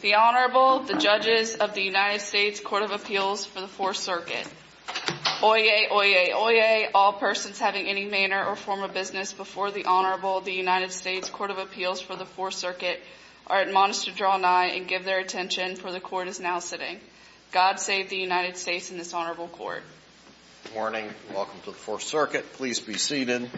The Honorable, the Judges of the United States Court of Appeals for the Fourth Circuit. Oyez, oyez, oyez, all persons having any manner or form of business before the Honorable, the United States Court of Appeals for the Fourth Circuit, are admonished to draw nigh and give their attention, for the Court is now sitting. God save the United States and this Honorable Court. Good morning. Welcome to the Fourth Circuit. Please be seated.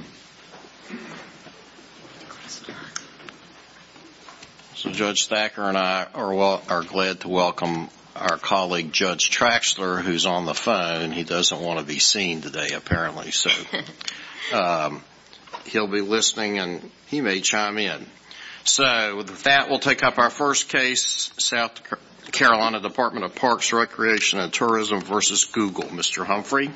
Judge Thacker and I are glad to welcome our colleague, Judge Traxler, who's on the phone. He doesn't want to be seen today, apparently. So, he'll be listening and he may chime in. So, with that, we'll take up our first case, South Carolina Department of Parks, Recreation and Tourism v. Google. Mr. Humphrey.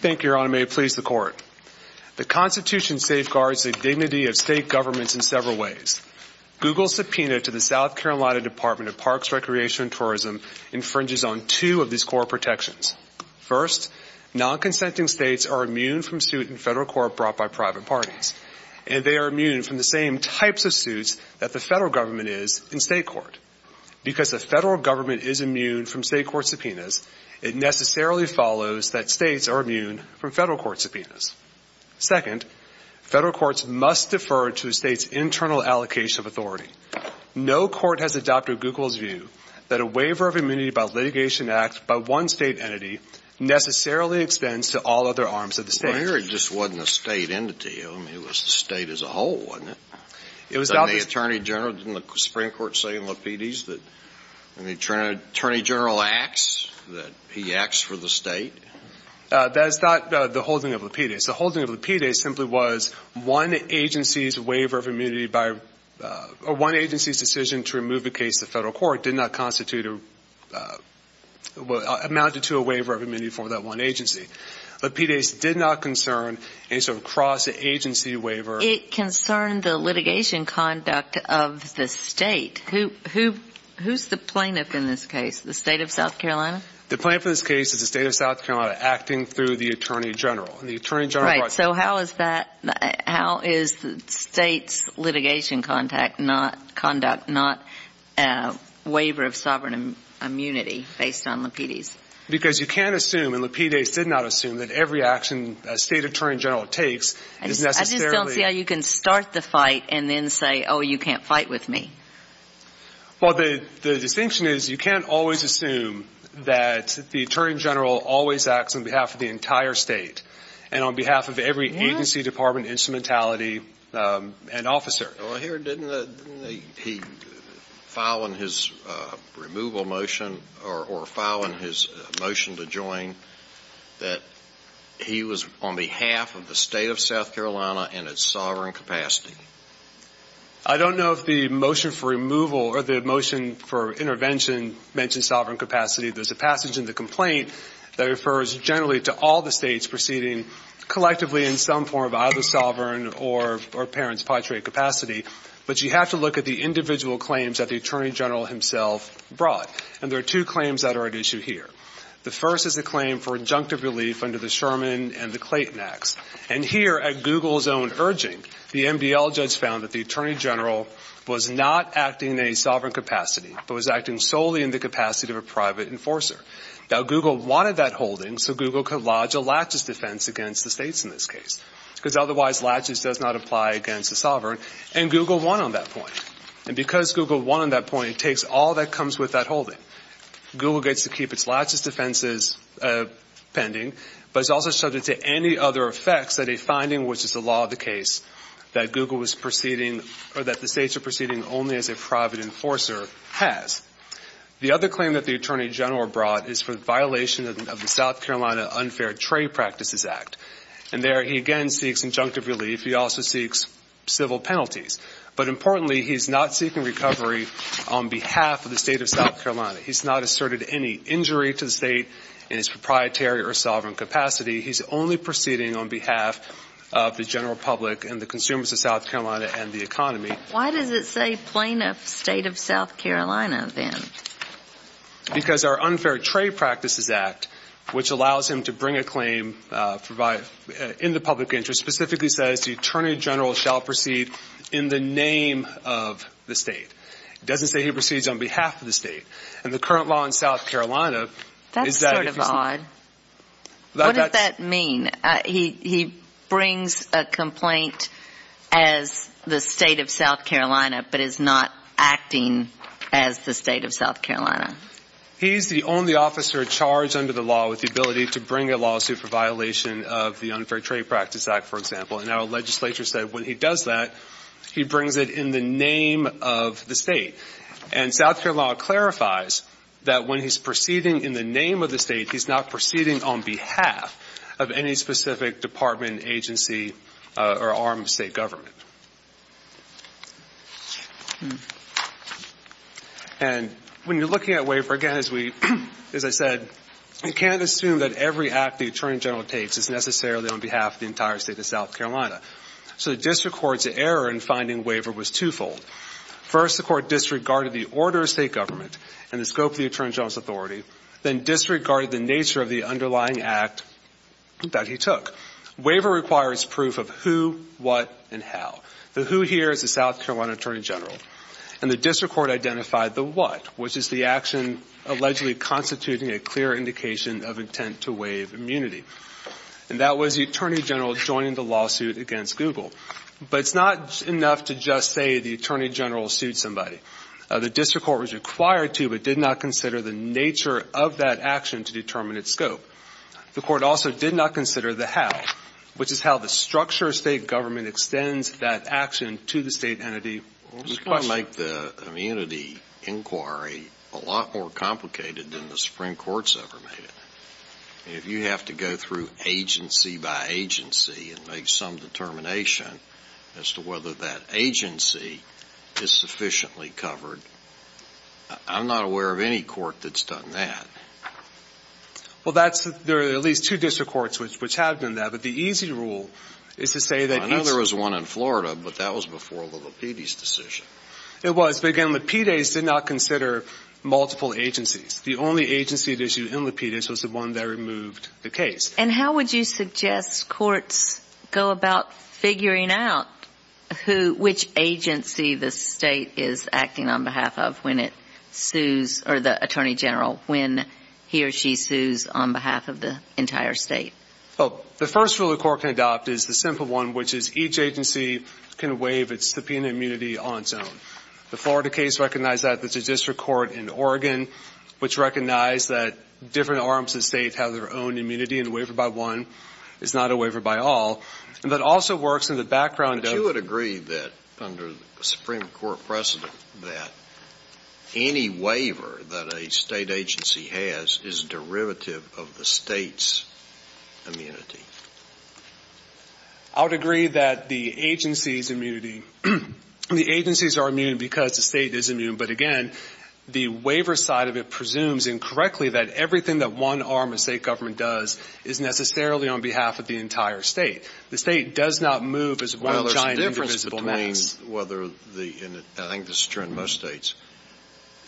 Thank you, Your Honor. May it please the Court. The Constitution safeguards the dignity of state governments in several ways. Google's subpoena to the South Carolina Department of Parks, Recreation and Tourism infringes on two of these core protections. First, non-consenting states are immune from suit in federal court brought by private parties, and they are immune from the same types of suits that the federal government is in state court. Because the federal government is immune from state court subpoenas, it necessarily follows that states are immune from federal court subpoenas. Second, federal courts must defer to the state's internal allocation of authority. No court has adopted Google's view that a waiver of immunity by litigation act by one state entity necessarily extends to all other arms of the state. Well, here it just wasn't a state entity. I mean, it was the state as a whole, wasn't it? It was adopted. Didn't the Attorney General, didn't the Supreme Court say in Lapides that when the Attorney General acts, that he acts for the state? That is not the holding of Lapides. The holding of Lapides simply was one agency's waiver of immunity by, or one agency's decision to remove a case to federal court did not constitute or amounted to a waiver of immunity from that one agency. Lapides did not concern any sort of cross-agency waiver. It concerned the litigation conduct of the state. Who's the plaintiff in this case? The state of South Carolina? The plaintiff in this case is the state of South Carolina acting through the Attorney General. Right. So how is that, how is the state's litigation conduct not a waiver of sovereign immunity based on Lapides? Because you can't assume, and Lapides did not assume, that every action a state Attorney General takes is necessarily. I just don't see how you can start the fight and then say, oh, you can't fight with me. Well, the distinction is you can't always assume that the Attorney General always acts on behalf of the entire state and on behalf of every agency, department, instrumentality, and officer. Well, here, didn't he file in his removal motion or file in his motion to join that he was on behalf of the state of South Carolina in its sovereign capacity? I don't know if the motion for removal or the motion for intervention mentions sovereign capacity. There's a passage in the complaint that refers generally to all the states proceeding collectively in some form of either sovereign or parents' patriot capacity. But you have to look at the individual claims that the Attorney General himself brought. And there are two claims that are at issue here. The first is a claim for injunctive relief under the Sherman and the Clayton Acts. And here, at Google's own urging, the MDL judge found that the Attorney General was not acting in a sovereign capacity but was acting solely in the capacity of a private enforcer. Now, Google wanted that holding so Google could lodge a laches defense against the states in this case because otherwise laches does not apply against the sovereign. And Google won on that point. And because Google won on that point, it takes all that comes with that holding. Google gets to keep its laches defenses pending, but it's also subject to any other effects that a finding, which is the law of the case, that Google was proceeding or that the states are proceeding only as a private enforcer has. The other claim that the Attorney General brought is for the violation of the South Carolina Unfair Trade Practices Act. And there he again seeks injunctive relief. He also seeks civil penalties. But importantly, he's not seeking recovery on behalf of the state of South Carolina. He's not asserted any injury to the state in his proprietary or sovereign capacity. He's only proceeding on behalf of the general public and the consumers of South Carolina and the economy. Why does it say plaintiff state of South Carolina then? Because our Unfair Trade Practices Act, which allows him to bring a claim in the public interest, specifically says the Attorney General shall proceed in the name of the state. It doesn't say he proceeds on behalf of the state. And the current law in South Carolina is that if he's not. That's sort of odd. What does that mean? He brings a complaint as the state of South Carolina but is not acting as the state of South Carolina. He's the only officer charged under the law with the ability to bring a lawsuit for violation of the Unfair Trade Practices Act, for example. And our legislature said when he does that, he brings it in the name of the state. And South Carolina clarifies that when he's proceeding in the name of the state, he's not proceeding on behalf of any specific department, agency, or arm of state government. And when you're looking at waiver, again, as I said, you can't assume that every act the Attorney General takes is necessarily on behalf of the entire state of South Carolina. So the district court's error in finding waiver was twofold. First, the court disregarded the order of state government and the scope of the Attorney General's authority, then disregarded the nature of the underlying act that he took. Waiver requires proof of who, what, and how. The who here is the South Carolina Attorney General. And the district court identified the what, which is the action allegedly constituting a clear indication of intent to waive immunity. And that was the Attorney General joining the lawsuit against Google. But it's not enough to just say the Attorney General sued somebody. The district court was required to but did not consider the nature of that action to determine its scope. The court also did not consider the how, which is how the structure of state government extends that action to the state entity. This is going to make the immunity inquiry a lot more complicated than the Supreme Court's ever made it. If you have to go through agency by agency and make some determination as to whether that agency is sufficiently covered, I'm not aware of any court that's done that. Well, there are at least two district courts which have done that. But the easy rule is to say that each – I know there was one in Florida, but that was before the Lapides decision. It was. But, again, Lapides did not consider multiple agencies. The only agency at issue in Lapides was the one that removed the case. And how would you suggest courts go about figuring out who, which agency the state is acting on behalf of when it sues, or the Attorney General, when he or she sues on behalf of the entire state? Well, the first rule a court can adopt is the simple one, which is each agency can waive its subpoena immunity on its own. The Florida case recognized that. There's a district court in Oregon which recognized that different arms of the state have their own immunity, and a waiver by one is not a waiver by all. And that also works in the background of – under the Supreme Court precedent that any waiver that a state agency has is derivative of the state's immunity. I would agree that the agency's immunity – the agencies are immune because the state is immune. But, again, the waiver side of it presumes incorrectly that everything that one arm of state government does is necessarily on behalf of the entire state. The state does not move as one giant indivisible mass. Well, there's a difference between whether the – and I think this is true in most states.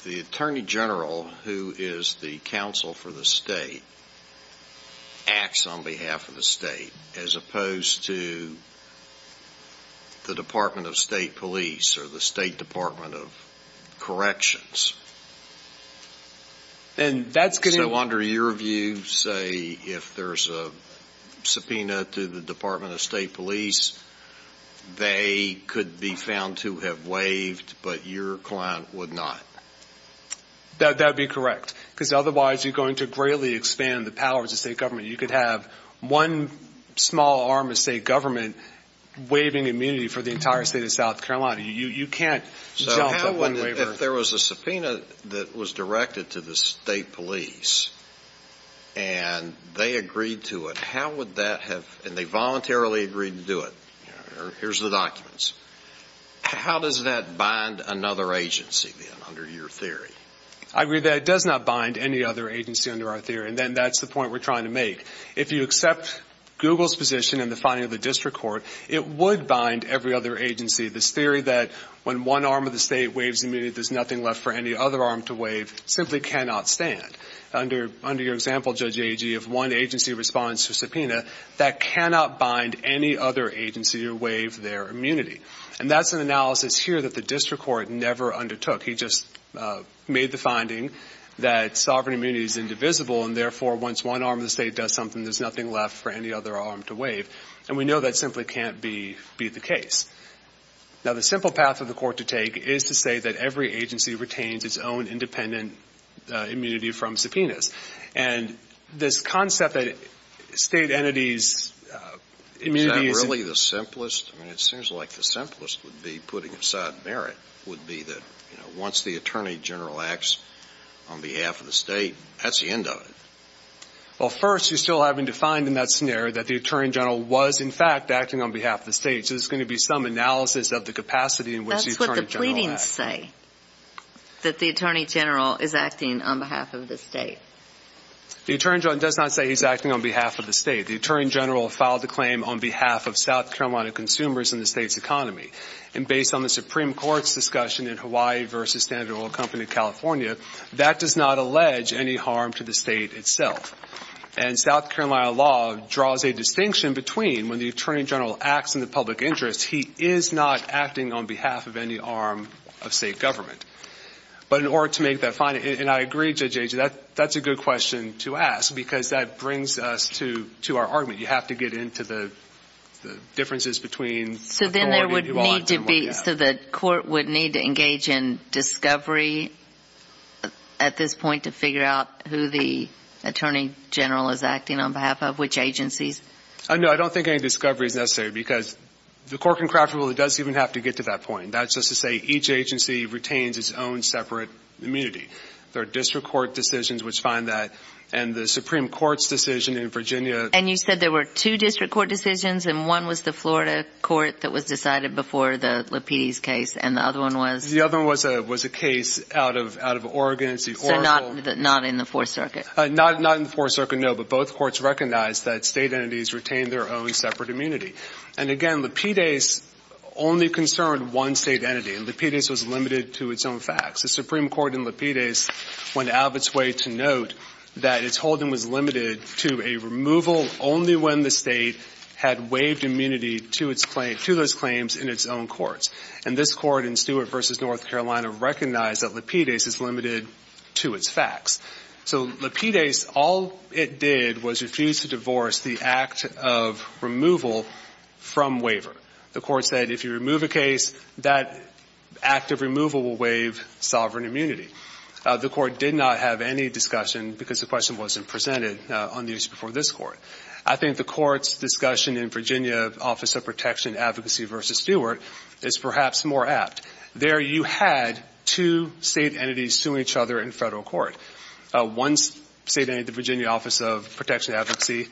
The Attorney General, who is the counsel for the state, acts on behalf of the state, as opposed to the Department of State Police or the State Department of Corrections. And that's going to – the Department of State Police, they could be found to have waived, but your client would not. That would be correct, because otherwise you're going to greatly expand the powers of state government. You could have one small arm of state government waiving immunity for the entire state of South Carolina. You can't jump up one waiver. So how would – if there was a subpoena that was directed to the state police and they agreed to it, how would that have – and they voluntarily agreed to do it. Here's the documents. How does that bind another agency, then, under your theory? I agree that it does not bind any other agency under our theory. And then that's the point we're trying to make. If you accept Google's position in the finding of the district court, it would bind every other agency. This theory that when one arm of the state waives immunity, there's nothing left for any other arm to waive simply cannot stand. Under your example, Judge Agee, if one agency responds to a subpoena, that cannot bind any other agency to waive their immunity. And that's an analysis here that the district court never undertook. He just made the finding that sovereign immunity is indivisible, and therefore once one arm of the state does something, there's nothing left for any other arm to waive. And we know that simply can't be the case. Now, the simple path for the court to take is to say that every agency retains its own independent immunity from subpoenas. And this concept that state entities' immunity is – Is that really the simplest? I mean, it seems like the simplest would be putting aside merit would be that, you know, once the attorney general acts on behalf of the state, that's the end of it. Well, first, you're still having to find in that scenario that the attorney general was, in fact, acting on behalf of the state. So there's going to be some analysis of the capacity in which the attorney general acts. That's what the pleadings say, that the attorney general is acting on behalf of the state. The attorney general does not say he's acting on behalf of the state. The attorney general filed a claim on behalf of South Carolina consumers in the state's economy. And based on the Supreme Court's discussion in Hawaii v. Standard Oil Company of California, that does not allege any harm to the state itself. And South Carolina law draws a distinction between when the attorney general acts in the public interest, he is not acting on behalf of any arm of state government. But in order to make that finding – and I agree, Judge Ager, that's a good question to ask because that brings us to our argument. You have to get into the differences between authority and law. So the court would need to engage in discovery at this point to figure out who the attorney general is acting on behalf of, which agencies? No, I don't think any discovery is necessary because the Cork and Craft rule doesn't even have to get to that point. That's just to say each agency retains its own separate immunity. There are district court decisions which find that, and the Supreme Court's decision in Virginia. And you said there were two district court decisions, and one was the Florida court that was decided before the Lapides case, and the other one was? The other one was a case out of Oregon. So not in the Fourth Circuit? Not in the Fourth Circuit, no, but both courts recognized that state entities retained their own separate immunity. And again, Lapides only concerned one state entity, and Lapides was limited to its own facts. The Supreme Court in Lapides went out of its way to note that its holding was limited to a removal only when the state had waived immunity to those claims in its own courts. And this court in Stewart v. North Carolina recognized that Lapides is limited to its facts. So Lapides, all it did was refuse to divorce the act of removal from waiver. The court said if you remove a case, that act of removal will waive sovereign immunity. The court did not have any discussion because the question wasn't presented on the issue before this court. I think the court's discussion in Virginia Office of Protection Advocacy v. Stewart is perhaps more apt. There you had two state entities suing each other in federal court. One state entity, the Virginia Office of Protection Advocacy,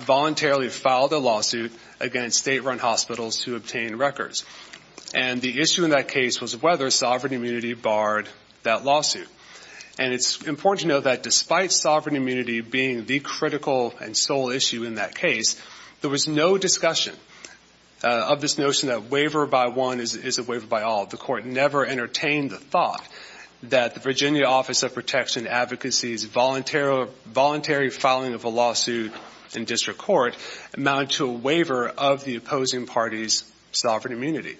voluntarily filed a lawsuit against state-run hospitals to obtain records. And the issue in that case was whether sovereign immunity barred that lawsuit. And it's important to note that despite sovereign immunity being the critical and sole issue in that case, there was no discussion of this notion that waiver by one is a waiver by all. The court never entertained the thought that the Virginia Office of Protection Advocacy's voluntary filing of a lawsuit in district court amounted to a waiver of the opposing party's sovereign immunity.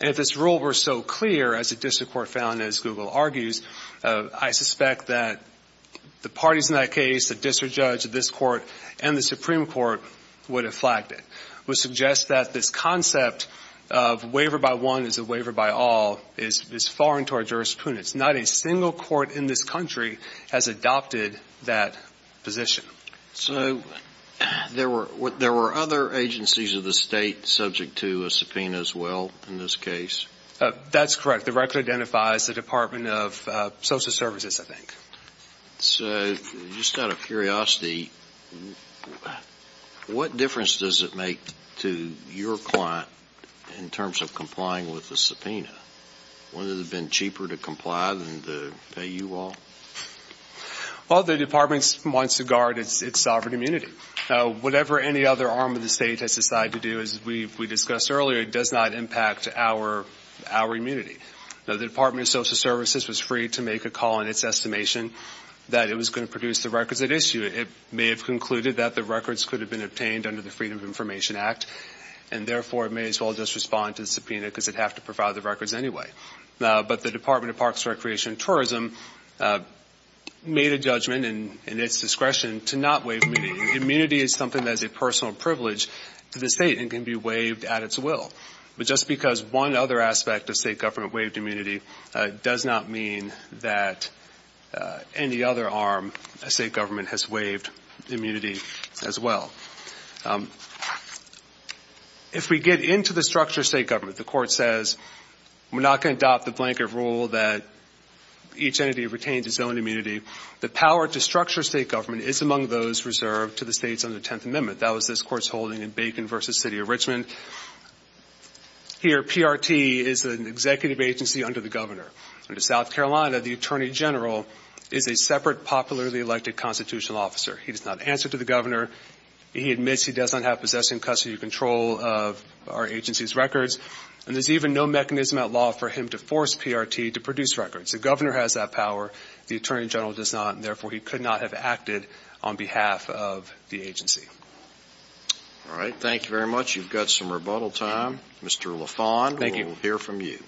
And if this rule were so clear, as the district court found, as Google argues, I suspect that the parties in that case, the district judge, this court, and the Supreme Court would have flagged it, would suggest that this concept of waiver by one is a waiver by all is foreign to our jurisprudence. Not a single court in this country has adopted that position. So there were other agencies of the state subject to a subpoena as well in this case? That's correct. The record identifies the Department of Social Services, I think. So just out of curiosity, what difference does it make to your client in terms of complying with the subpoena? Has it been cheaper to comply than to pay you all? Well, the department wants to guard its sovereign immunity. Whatever any other arm of the state has decided to do, as we discussed earlier, does not impact our immunity. The Department of Social Services was free to make a call in its estimation that it was going to produce the records at issue. It may have concluded that the records could have been obtained under the Freedom of Information Act, and therefore it may as well just respond to the subpoena because it would have to provide the records anyway. But the Department of Parks, Recreation, and Tourism made a judgment in its discretion to not waive immunity. Immunity is something that is a personal privilege to the state and can be waived at its will. But just because one other aspect of state government waived immunity does not mean that any other arm of state government has waived immunity as well. If we get into the structure of state government, the Court says we're not going to adopt the blanket rule that each entity retains its own immunity. The power to structure state government is among those reserved to the states under the Tenth Amendment. That was this Court's holding in Bacon v. City of Richmond. Here, PRT is an executive agency under the governor. Under South Carolina, the attorney general is a separate popularly elected constitutional officer. He does not answer to the governor. He admits he does not have possession, custody, or control of our agency's records. And there's even no mechanism at law for him to force PRT to produce records. The governor has that power. The attorney general does not, and therefore he could not have acted on behalf of the agency. All right. Thank you very much. You've got some rebuttal time. Mr. LaFond, we'll hear from you.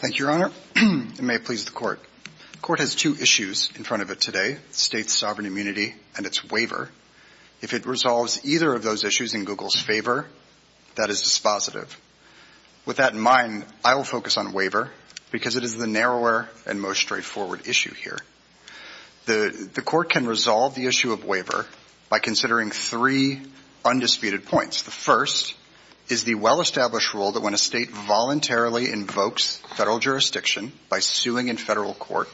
Thank you, Your Honor. It may please the Court. The Court has two issues in front of it today, states' sovereign immunity and its waiver. If it resolves either of those issues in Google's favor, that is dispositive. With that in mind, I will focus on waiver because it is the narrower and most straightforward issue here. The Court can resolve the issue of waiver by considering three undisputed points. The first is the well-established rule that when a state voluntarily invokes federal jurisdiction by suing in federal court,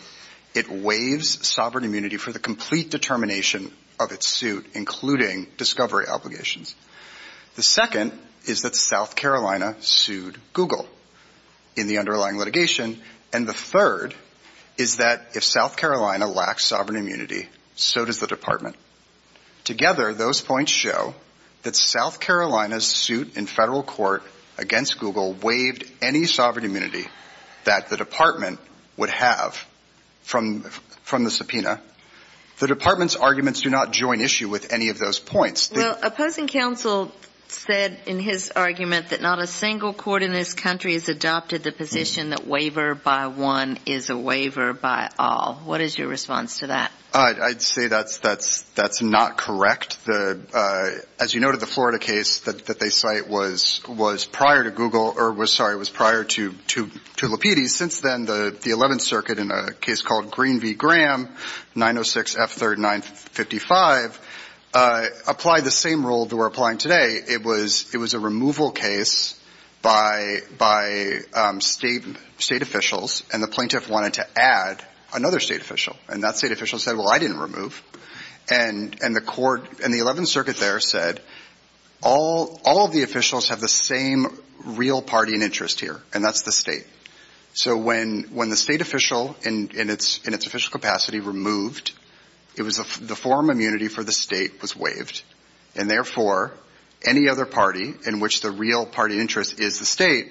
it waives sovereign immunity for the complete determination of its suit, including discovery obligations. The second is that South Carolina sued Google in the underlying litigation. And the third is that if South Carolina lacks sovereign immunity, so does the Department. Together, those points show that South Carolina's suit in federal court against Google waived any sovereign immunity that the Department would have from the subpoena. The Department's arguments do not join issue with any of those points. Well, opposing counsel said in his argument that not a single court in this country has adopted the position that waiver by one is a waiver by all. What is your response to that? I'd say that's not correct. As you noted, the Florida case that they cite was prior to Google or was prior to Lapides. Since then, the Eleventh Circuit, in a case called Green v. Graham, 906 F3rd 955, applied the same rule that we're applying today. It was a removal case by state officials, and the plaintiff wanted to add another state official. And that state official said, well, I didn't remove. And the court in the Eleventh Circuit there said all of the officials have the same real party and interest here, and that's the state. So when the state official in its official capacity removed, the forum immunity for the state was waived. And therefore, any other party in which the real party interest is the state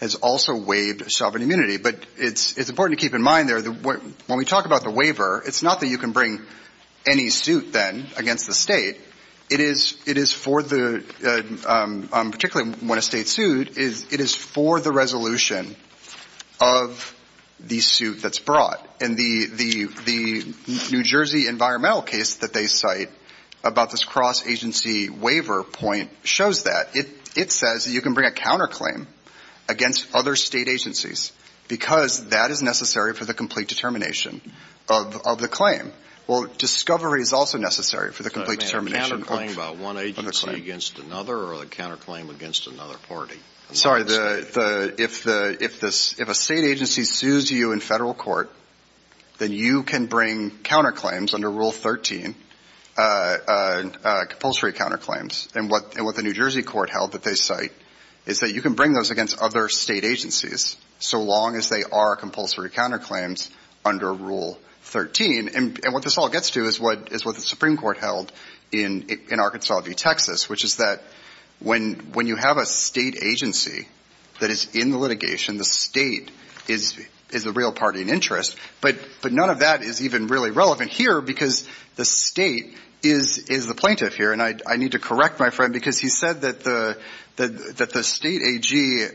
has also waived sovereign immunity. But it's important to keep in mind there that when we talk about the waiver, it's not that you can bring any suit then against the state. It is for the – particularly when a state's sued, it is for the resolution of the suit that's brought. And the New Jersey environmental case that they cite about this cross-agency waiver point shows that. It says that you can bring a counterclaim against other state agencies because that is necessary for the complete determination of the claim. Well, discovery is also necessary for the complete determination of the claim. A counterclaim by one agency against another or a counterclaim against another party? I'm sorry. If a state agency sues you in Federal court, then you can bring counterclaims under Rule 13, compulsory counterclaims. And what the New Jersey court held that they cite is that you can bring those against other state agencies so long as they are compulsory counterclaims under Rule 13. And what this all gets to is what the Supreme Court held in Arkansas v. Texas, which is that when you have a state agency that is in the litigation, the state is the real party in interest. But none of that is even really relevant here because the state is the plaintiff here. And I need to correct my friend because he said that the state AG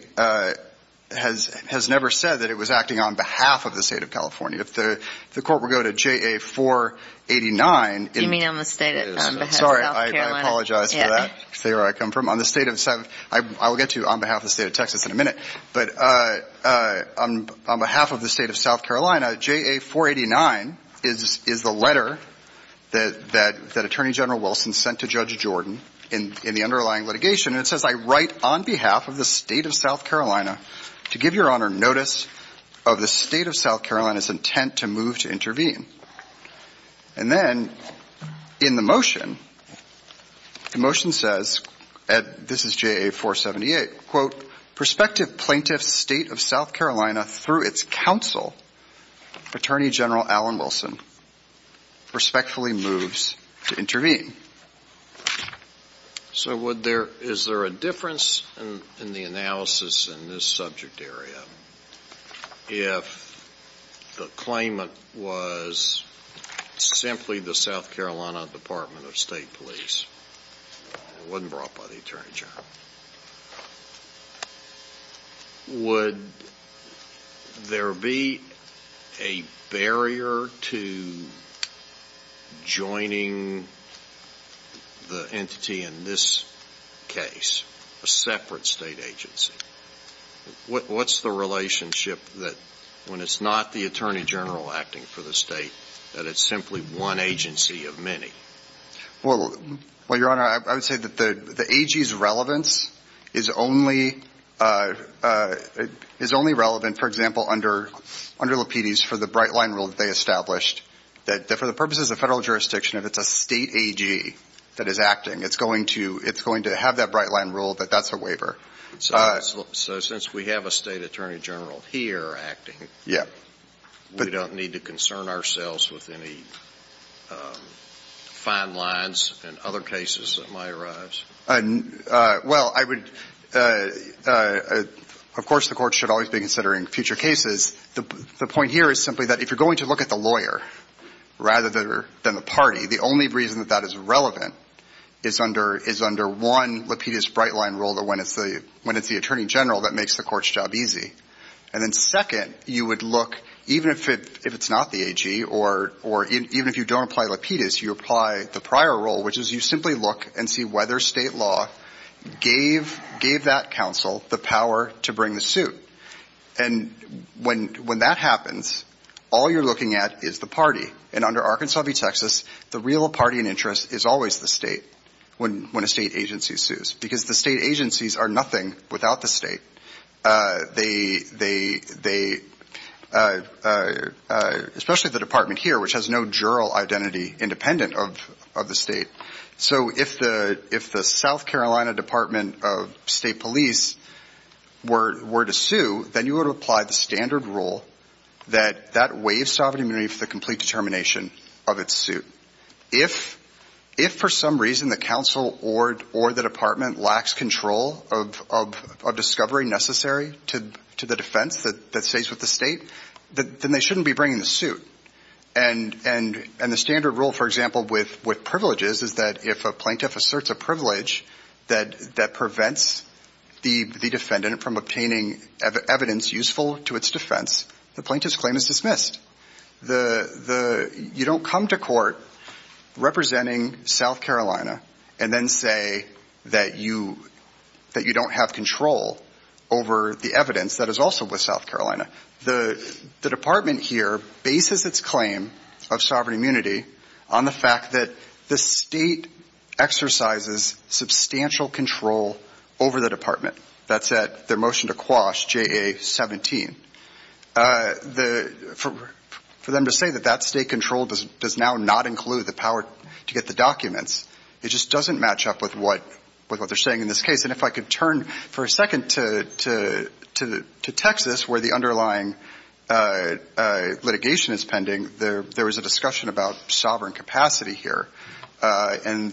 has never said that it was acting on behalf of the state of California. If the court were to go to JA-489. Do you mean on behalf of South Carolina? Sorry, I apologize for that, say where I come from. On behalf of the state of Texas in a minute, but on behalf of the state of South Carolina, JA-489 is the letter that Attorney General Wilson sent to Judge Jordan in the underlying litigation. And it says, I write on behalf of the state of South Carolina to give Your Honor notice of the state of South Carolina's intent to move to intervene. And then in the motion, the motion says, this is JA-478, quote, prospective plaintiff's state of South Carolina through its counsel, Attorney General Alan Wilson, respectfully moves to intervene. So is there a difference in the analysis in this subject area if the claimant was simply the South Carolina Department of State police? It wasn't brought by the Attorney General. Would there be a barrier to joining the entity in this case, a separate state agency? What's the relationship that when it's not the Attorney General acting for the state, that it's simply one agency of many? Well, Your Honor, I would say that the AG's relevance is only relevant, for example, under Lapides for the bright line rule that they established, that for the purposes of federal jurisdiction, if it's a state AG that is acting, it's going to have that bright line rule that that's a waiver. So since we have a state Attorney General here acting, we don't need to concern ourselves with any fine lines in other cases that might arise? Well, I would – of course, the Court should always be considering future cases. The point here is simply that if you're going to look at the lawyer rather than the party, the only reason that that is relevant is under one Lapides bright line rule when it's the Attorney General that makes the court's job easy. And then second, you would look, even if it's not the AG or even if you don't apply Lapides, you apply the prior rule, which is you simply look and see whether state law gave that counsel the power to bring the suit. And when that happens, all you're looking at is the party. And under Arkansas v. Texas, the real party in interest is always the state when a state agency sues, because the state agencies are nothing without the state, especially the department here, which has no juror identity independent of the state. So if the South Carolina Department of State Police were to sue, then you would apply the standard rule that that waives sovereign immunity for the complete determination of its suit. If for some reason the counsel or the department lacks control of discovery necessary to the defense that stays with the state, then they shouldn't be bringing the suit. And the standard rule, for example, with privileges is that if a plaintiff asserts a privilege that prevents the defendant from obtaining evidence useful to its defense, the plaintiff's claim is dismissed. You don't come to court representing South Carolina and then say that you don't have control over the evidence that is also with South Carolina. The department here bases its claim of sovereign immunity on the fact that the state exercises substantial control over the department. That's at their motion to quash, JA-17. For them to say that that state control does now not include the power to get the documents, it just doesn't match up with what they're saying in this case. And if I could turn for a second to Texas, where the underlying litigation is pending, there was a discussion about sovereign capacity here, and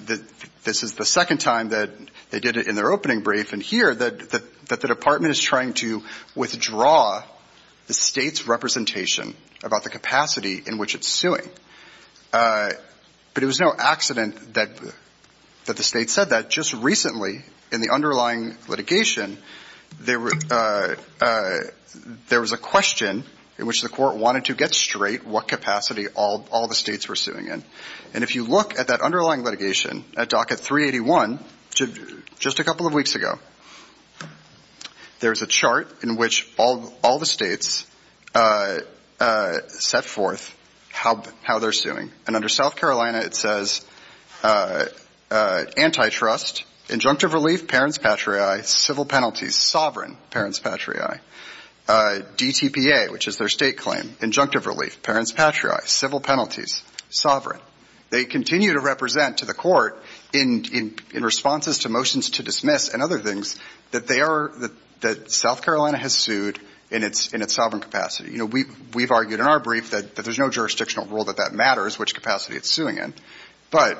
this is the second time that they did it in their opening brief. And here, that the department is trying to withdraw the state's representation about the capacity in which it's suing. But it was no accident that the state said that. Just recently in the underlying litigation, there was a question in which the court wanted to get straight what capacity all the states were suing in. And if you look at that underlying litigation at docket 381, just a couple of weeks ago, there's a chart in which all the states set forth how they're suing. And under South Carolina, it says antitrust, injunctive relief, parents patriae, civil penalties, sovereign parents patriae, DTPA, which is their state claim, injunctive relief, parents patriae, civil penalties, sovereign. They continue to represent to the court in responses to motions to dismiss and other things that they are, that South Carolina has sued in its sovereign capacity. You know, we've argued in our brief that there's no jurisdictional rule that that matters, which capacity it's suing in. But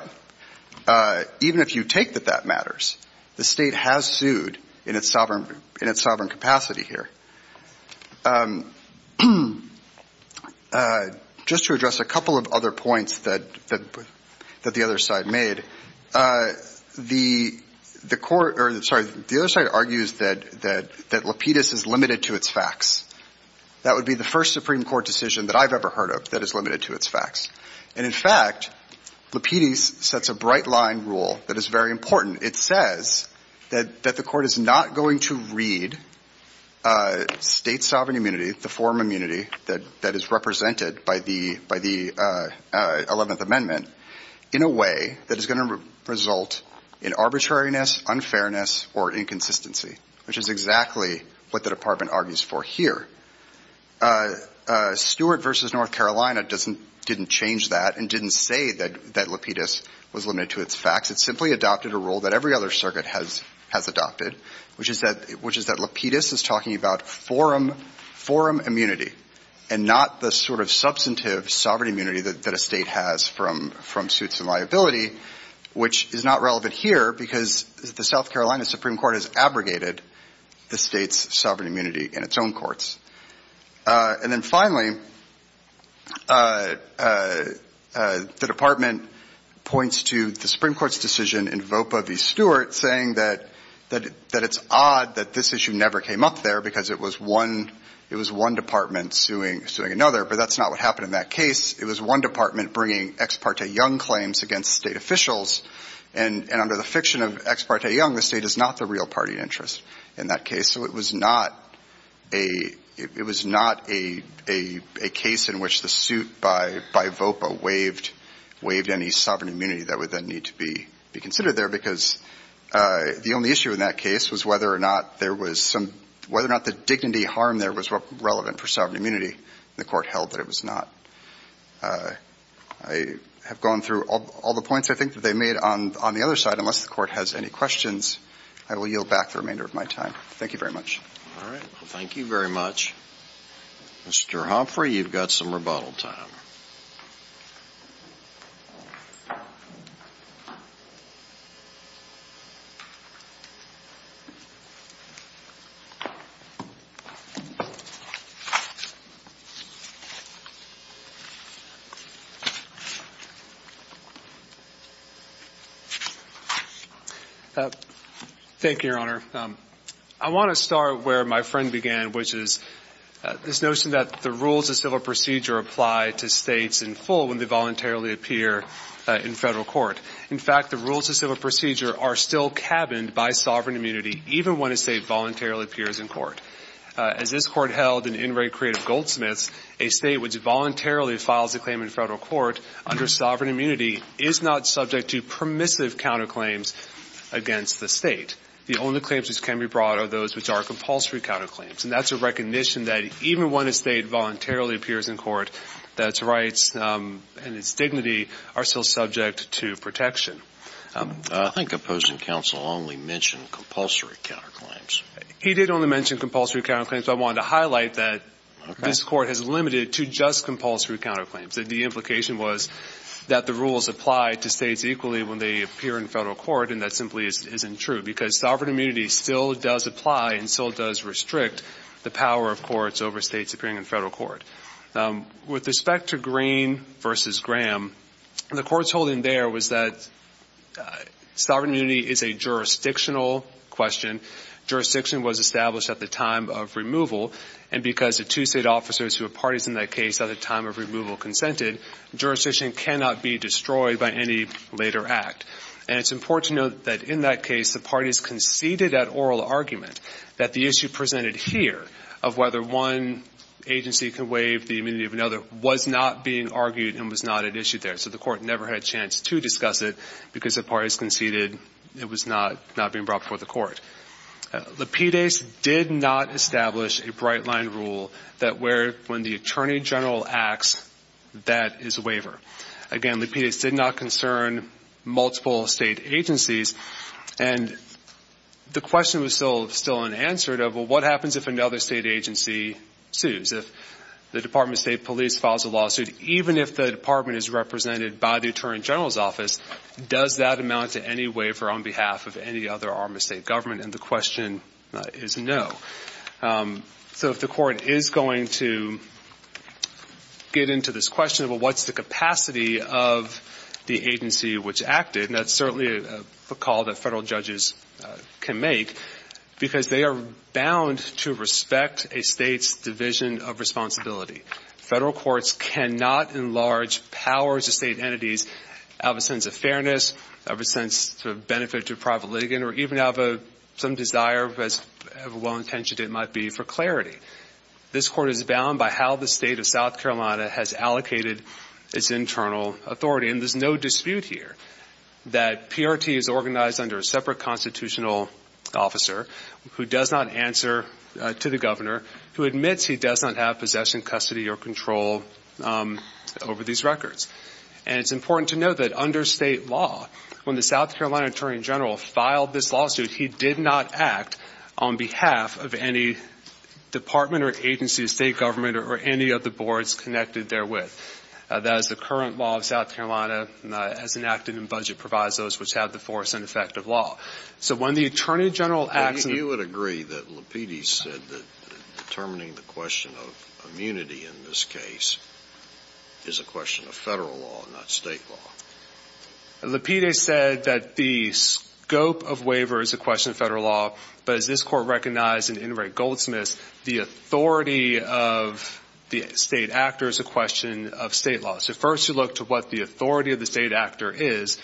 even if you take that that matters, the state has sued in its sovereign capacity here. Just to address a couple of other points that the other side made, the court or, sorry, the other side argues that Lapidus is limited to its facts. That would be the first Supreme Court decision that I've ever heard of that is limited to its facts. And, in fact, Lapidus sets a bright-line rule that is very important. It says that the court is not going to read state sovereign immunity, the forum immunity, that is represented by the 11th Amendment in a way that is going to result in arbitrariness, unfairness or inconsistency, which is exactly what the department argues for here. Stewart v. North Carolina didn't change that and didn't say that Lapidus was limited to its facts. It simply adopted a rule that every other circuit has adopted, which is that Lapidus is talking about forum immunity and not the sort of substantive sovereign immunity that a state has from suits and liability, which is not relevant here because the South Carolina Supreme Court has abrogated the state's sovereign immunity in its own courts. And then, finally, the department points to the Supreme Court's decision in VOPA v. Stewart saying that it's odd that this issue never came up there because it was one department suing another, but that's not what happened in that case. It was one department bringing ex parte young claims against state officials, and under the fiction of ex parte young, the state is not the real party interest in that case. So it was not a case in which the suit by VOPA waived any sovereign immunity that would then need to be considered there because the only issue in that case was whether or not the dignity harm there was relevant for sovereign immunity. The Court held that it was not. I have gone through all the points, I think, that they made on the other side. Unless the Court has any questions, I will yield back the remainder of my time. Thank you very much. All right. Thank you very much. Mr. Humphrey, you've got some rebuttal time. Thank you, Your Honor. I want to start where my friend began, which is this notion that the rules of civil procedure apply to states in full when they voluntarily appear in federal court. In fact, the rules of civil procedure are still cabined by sovereign immunity even when a state voluntarily appears in federal court. As this Court held in In Re Creative Goldsmiths, a state which voluntarily files a claim in federal court under sovereign immunity is not subject to permissive counterclaims against the state. The only claims which can be brought are those which are compulsory counterclaims. And that's a recognition that even when a state voluntarily appears in court, that its rights and its dignity are still subject to protection. I think opposing counsel only mentioned compulsory counterclaims. He did only mention compulsory counterclaims, but I wanted to highlight that this Court has limited to just compulsory counterclaims. The implication was that the rules apply to states equally when they appear in federal court, and that simply isn't true because sovereign immunity still does apply and still does restrict the power of courts over states appearing in federal court. With respect to Green v. Graham, the Court's holding there was that sovereign immunity is a jurisdictional question. Jurisdiction was established at the time of removal, and because the two state officers who were parties in that case at the time of removal consented, jurisdiction cannot be destroyed by any later act. And it's important to note that in that case, the parties conceded that oral argument, that the issue presented here of whether one agency could waive the immunity of another was not being argued and was not at issue there, so the Court never had a chance to discuss it because the parties conceded it was not being brought before the Court. Lapidus did not establish a bright-line rule that when the attorney general acts, that is a waiver. Again, Lapidus did not concern multiple state agencies, and the question was still unanswered of, well, what happens if another state agency sues? If the Department of State police files a lawsuit, even if the department is represented by the attorney general's office, does that amount to any waiver on behalf of any other arm of state government? And the question is no. So if the Court is going to get into this question of, well, what's the capacity of the agency which acted, and that's certainly a call that federal judges can make, because they are bound to respect a state's division of responsibility. Federal courts cannot enlarge powers of state entities out of a sense of fairness, out of a sense of benefit to private litigant, or even out of some desire, as well-intentioned it might be, for clarity. This Court is bound by how the state of South Carolina has allocated its internal authority, and there's no dispute here that PRT is organized under a separate constitutional officer who does not answer to the governor, who admits he does not have possession, custody, or control over these records. And it's important to note that under state law, when the South Carolina attorney general filed this lawsuit, he did not act on behalf of any department or agency of state government or any of the boards connected therewith. That is, the current law of South Carolina, as enacted in budget, provides those which have the force and effect of law. So when the attorney general acts… You would agree that Lapides said that determining the question of immunity in this case is a question of federal law, not state law. Lapides said that the scope of waiver is a question of federal law, but as this Court recognized in Inouye Goldsmith's, the authority of the state actor is a question of state law. So first you look to what the authority of the state actor is.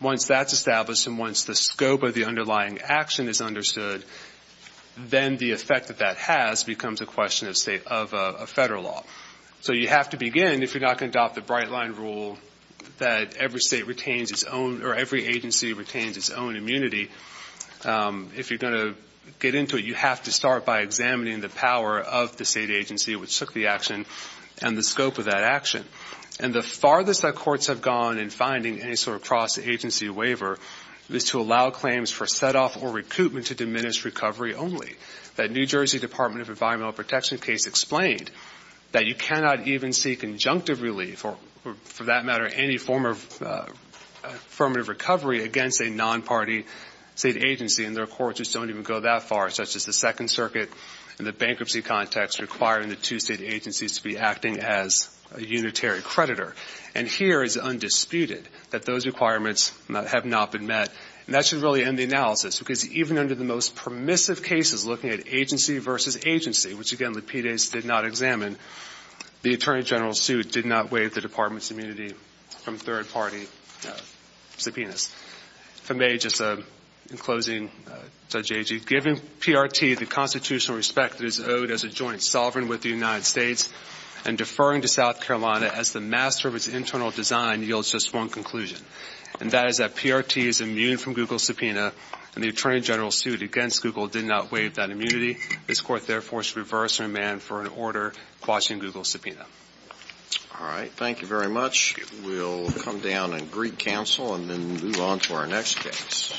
Once that's established and once the scope of the underlying action is understood, then the effect that that has becomes a question of federal law. So you have to begin, if you're not going to adopt the bright-line rule that every agency retains its own immunity, if you're going to get into it, you have to start by examining the power of the state agency which took the action and the scope of that action. And the farthest that courts have gone in finding any sort of cross-agency waiver is to allow claims for set-off or recoupment to diminish recovery only. That New Jersey Department of Environmental Protection case explained that you cannot even seek conjunctive relief, or for that matter, any form of affirmative recovery against a non-party state agency, and their courts just don't even go that far, such as the Second Circuit in the bankruptcy context requiring the two state agencies to be acting as a unitary creditor. And here it's undisputed that those requirements have not been met, and that should really end the analysis because even under the most permissive cases looking at agency versus agency, which, again, the PDAS did not examine, the Attorney General's suit did not waive the Department's immunity from third-party subpoenas. If I may, just in closing, Judge Agee, given PRT the constitutional respect that is owed as a joint sovereign with the United States and deferring to South Carolina as the master of its internal design yields just one conclusion, and that is that PRT is immune from Google's subpoena, and the Attorney General's suit against Google did not waive that immunity. This Court, therefore, should reverse and demand for an order quashing Google's subpoena. All right. Thank you very much. We'll come down and greet counsel and then move on to our next case.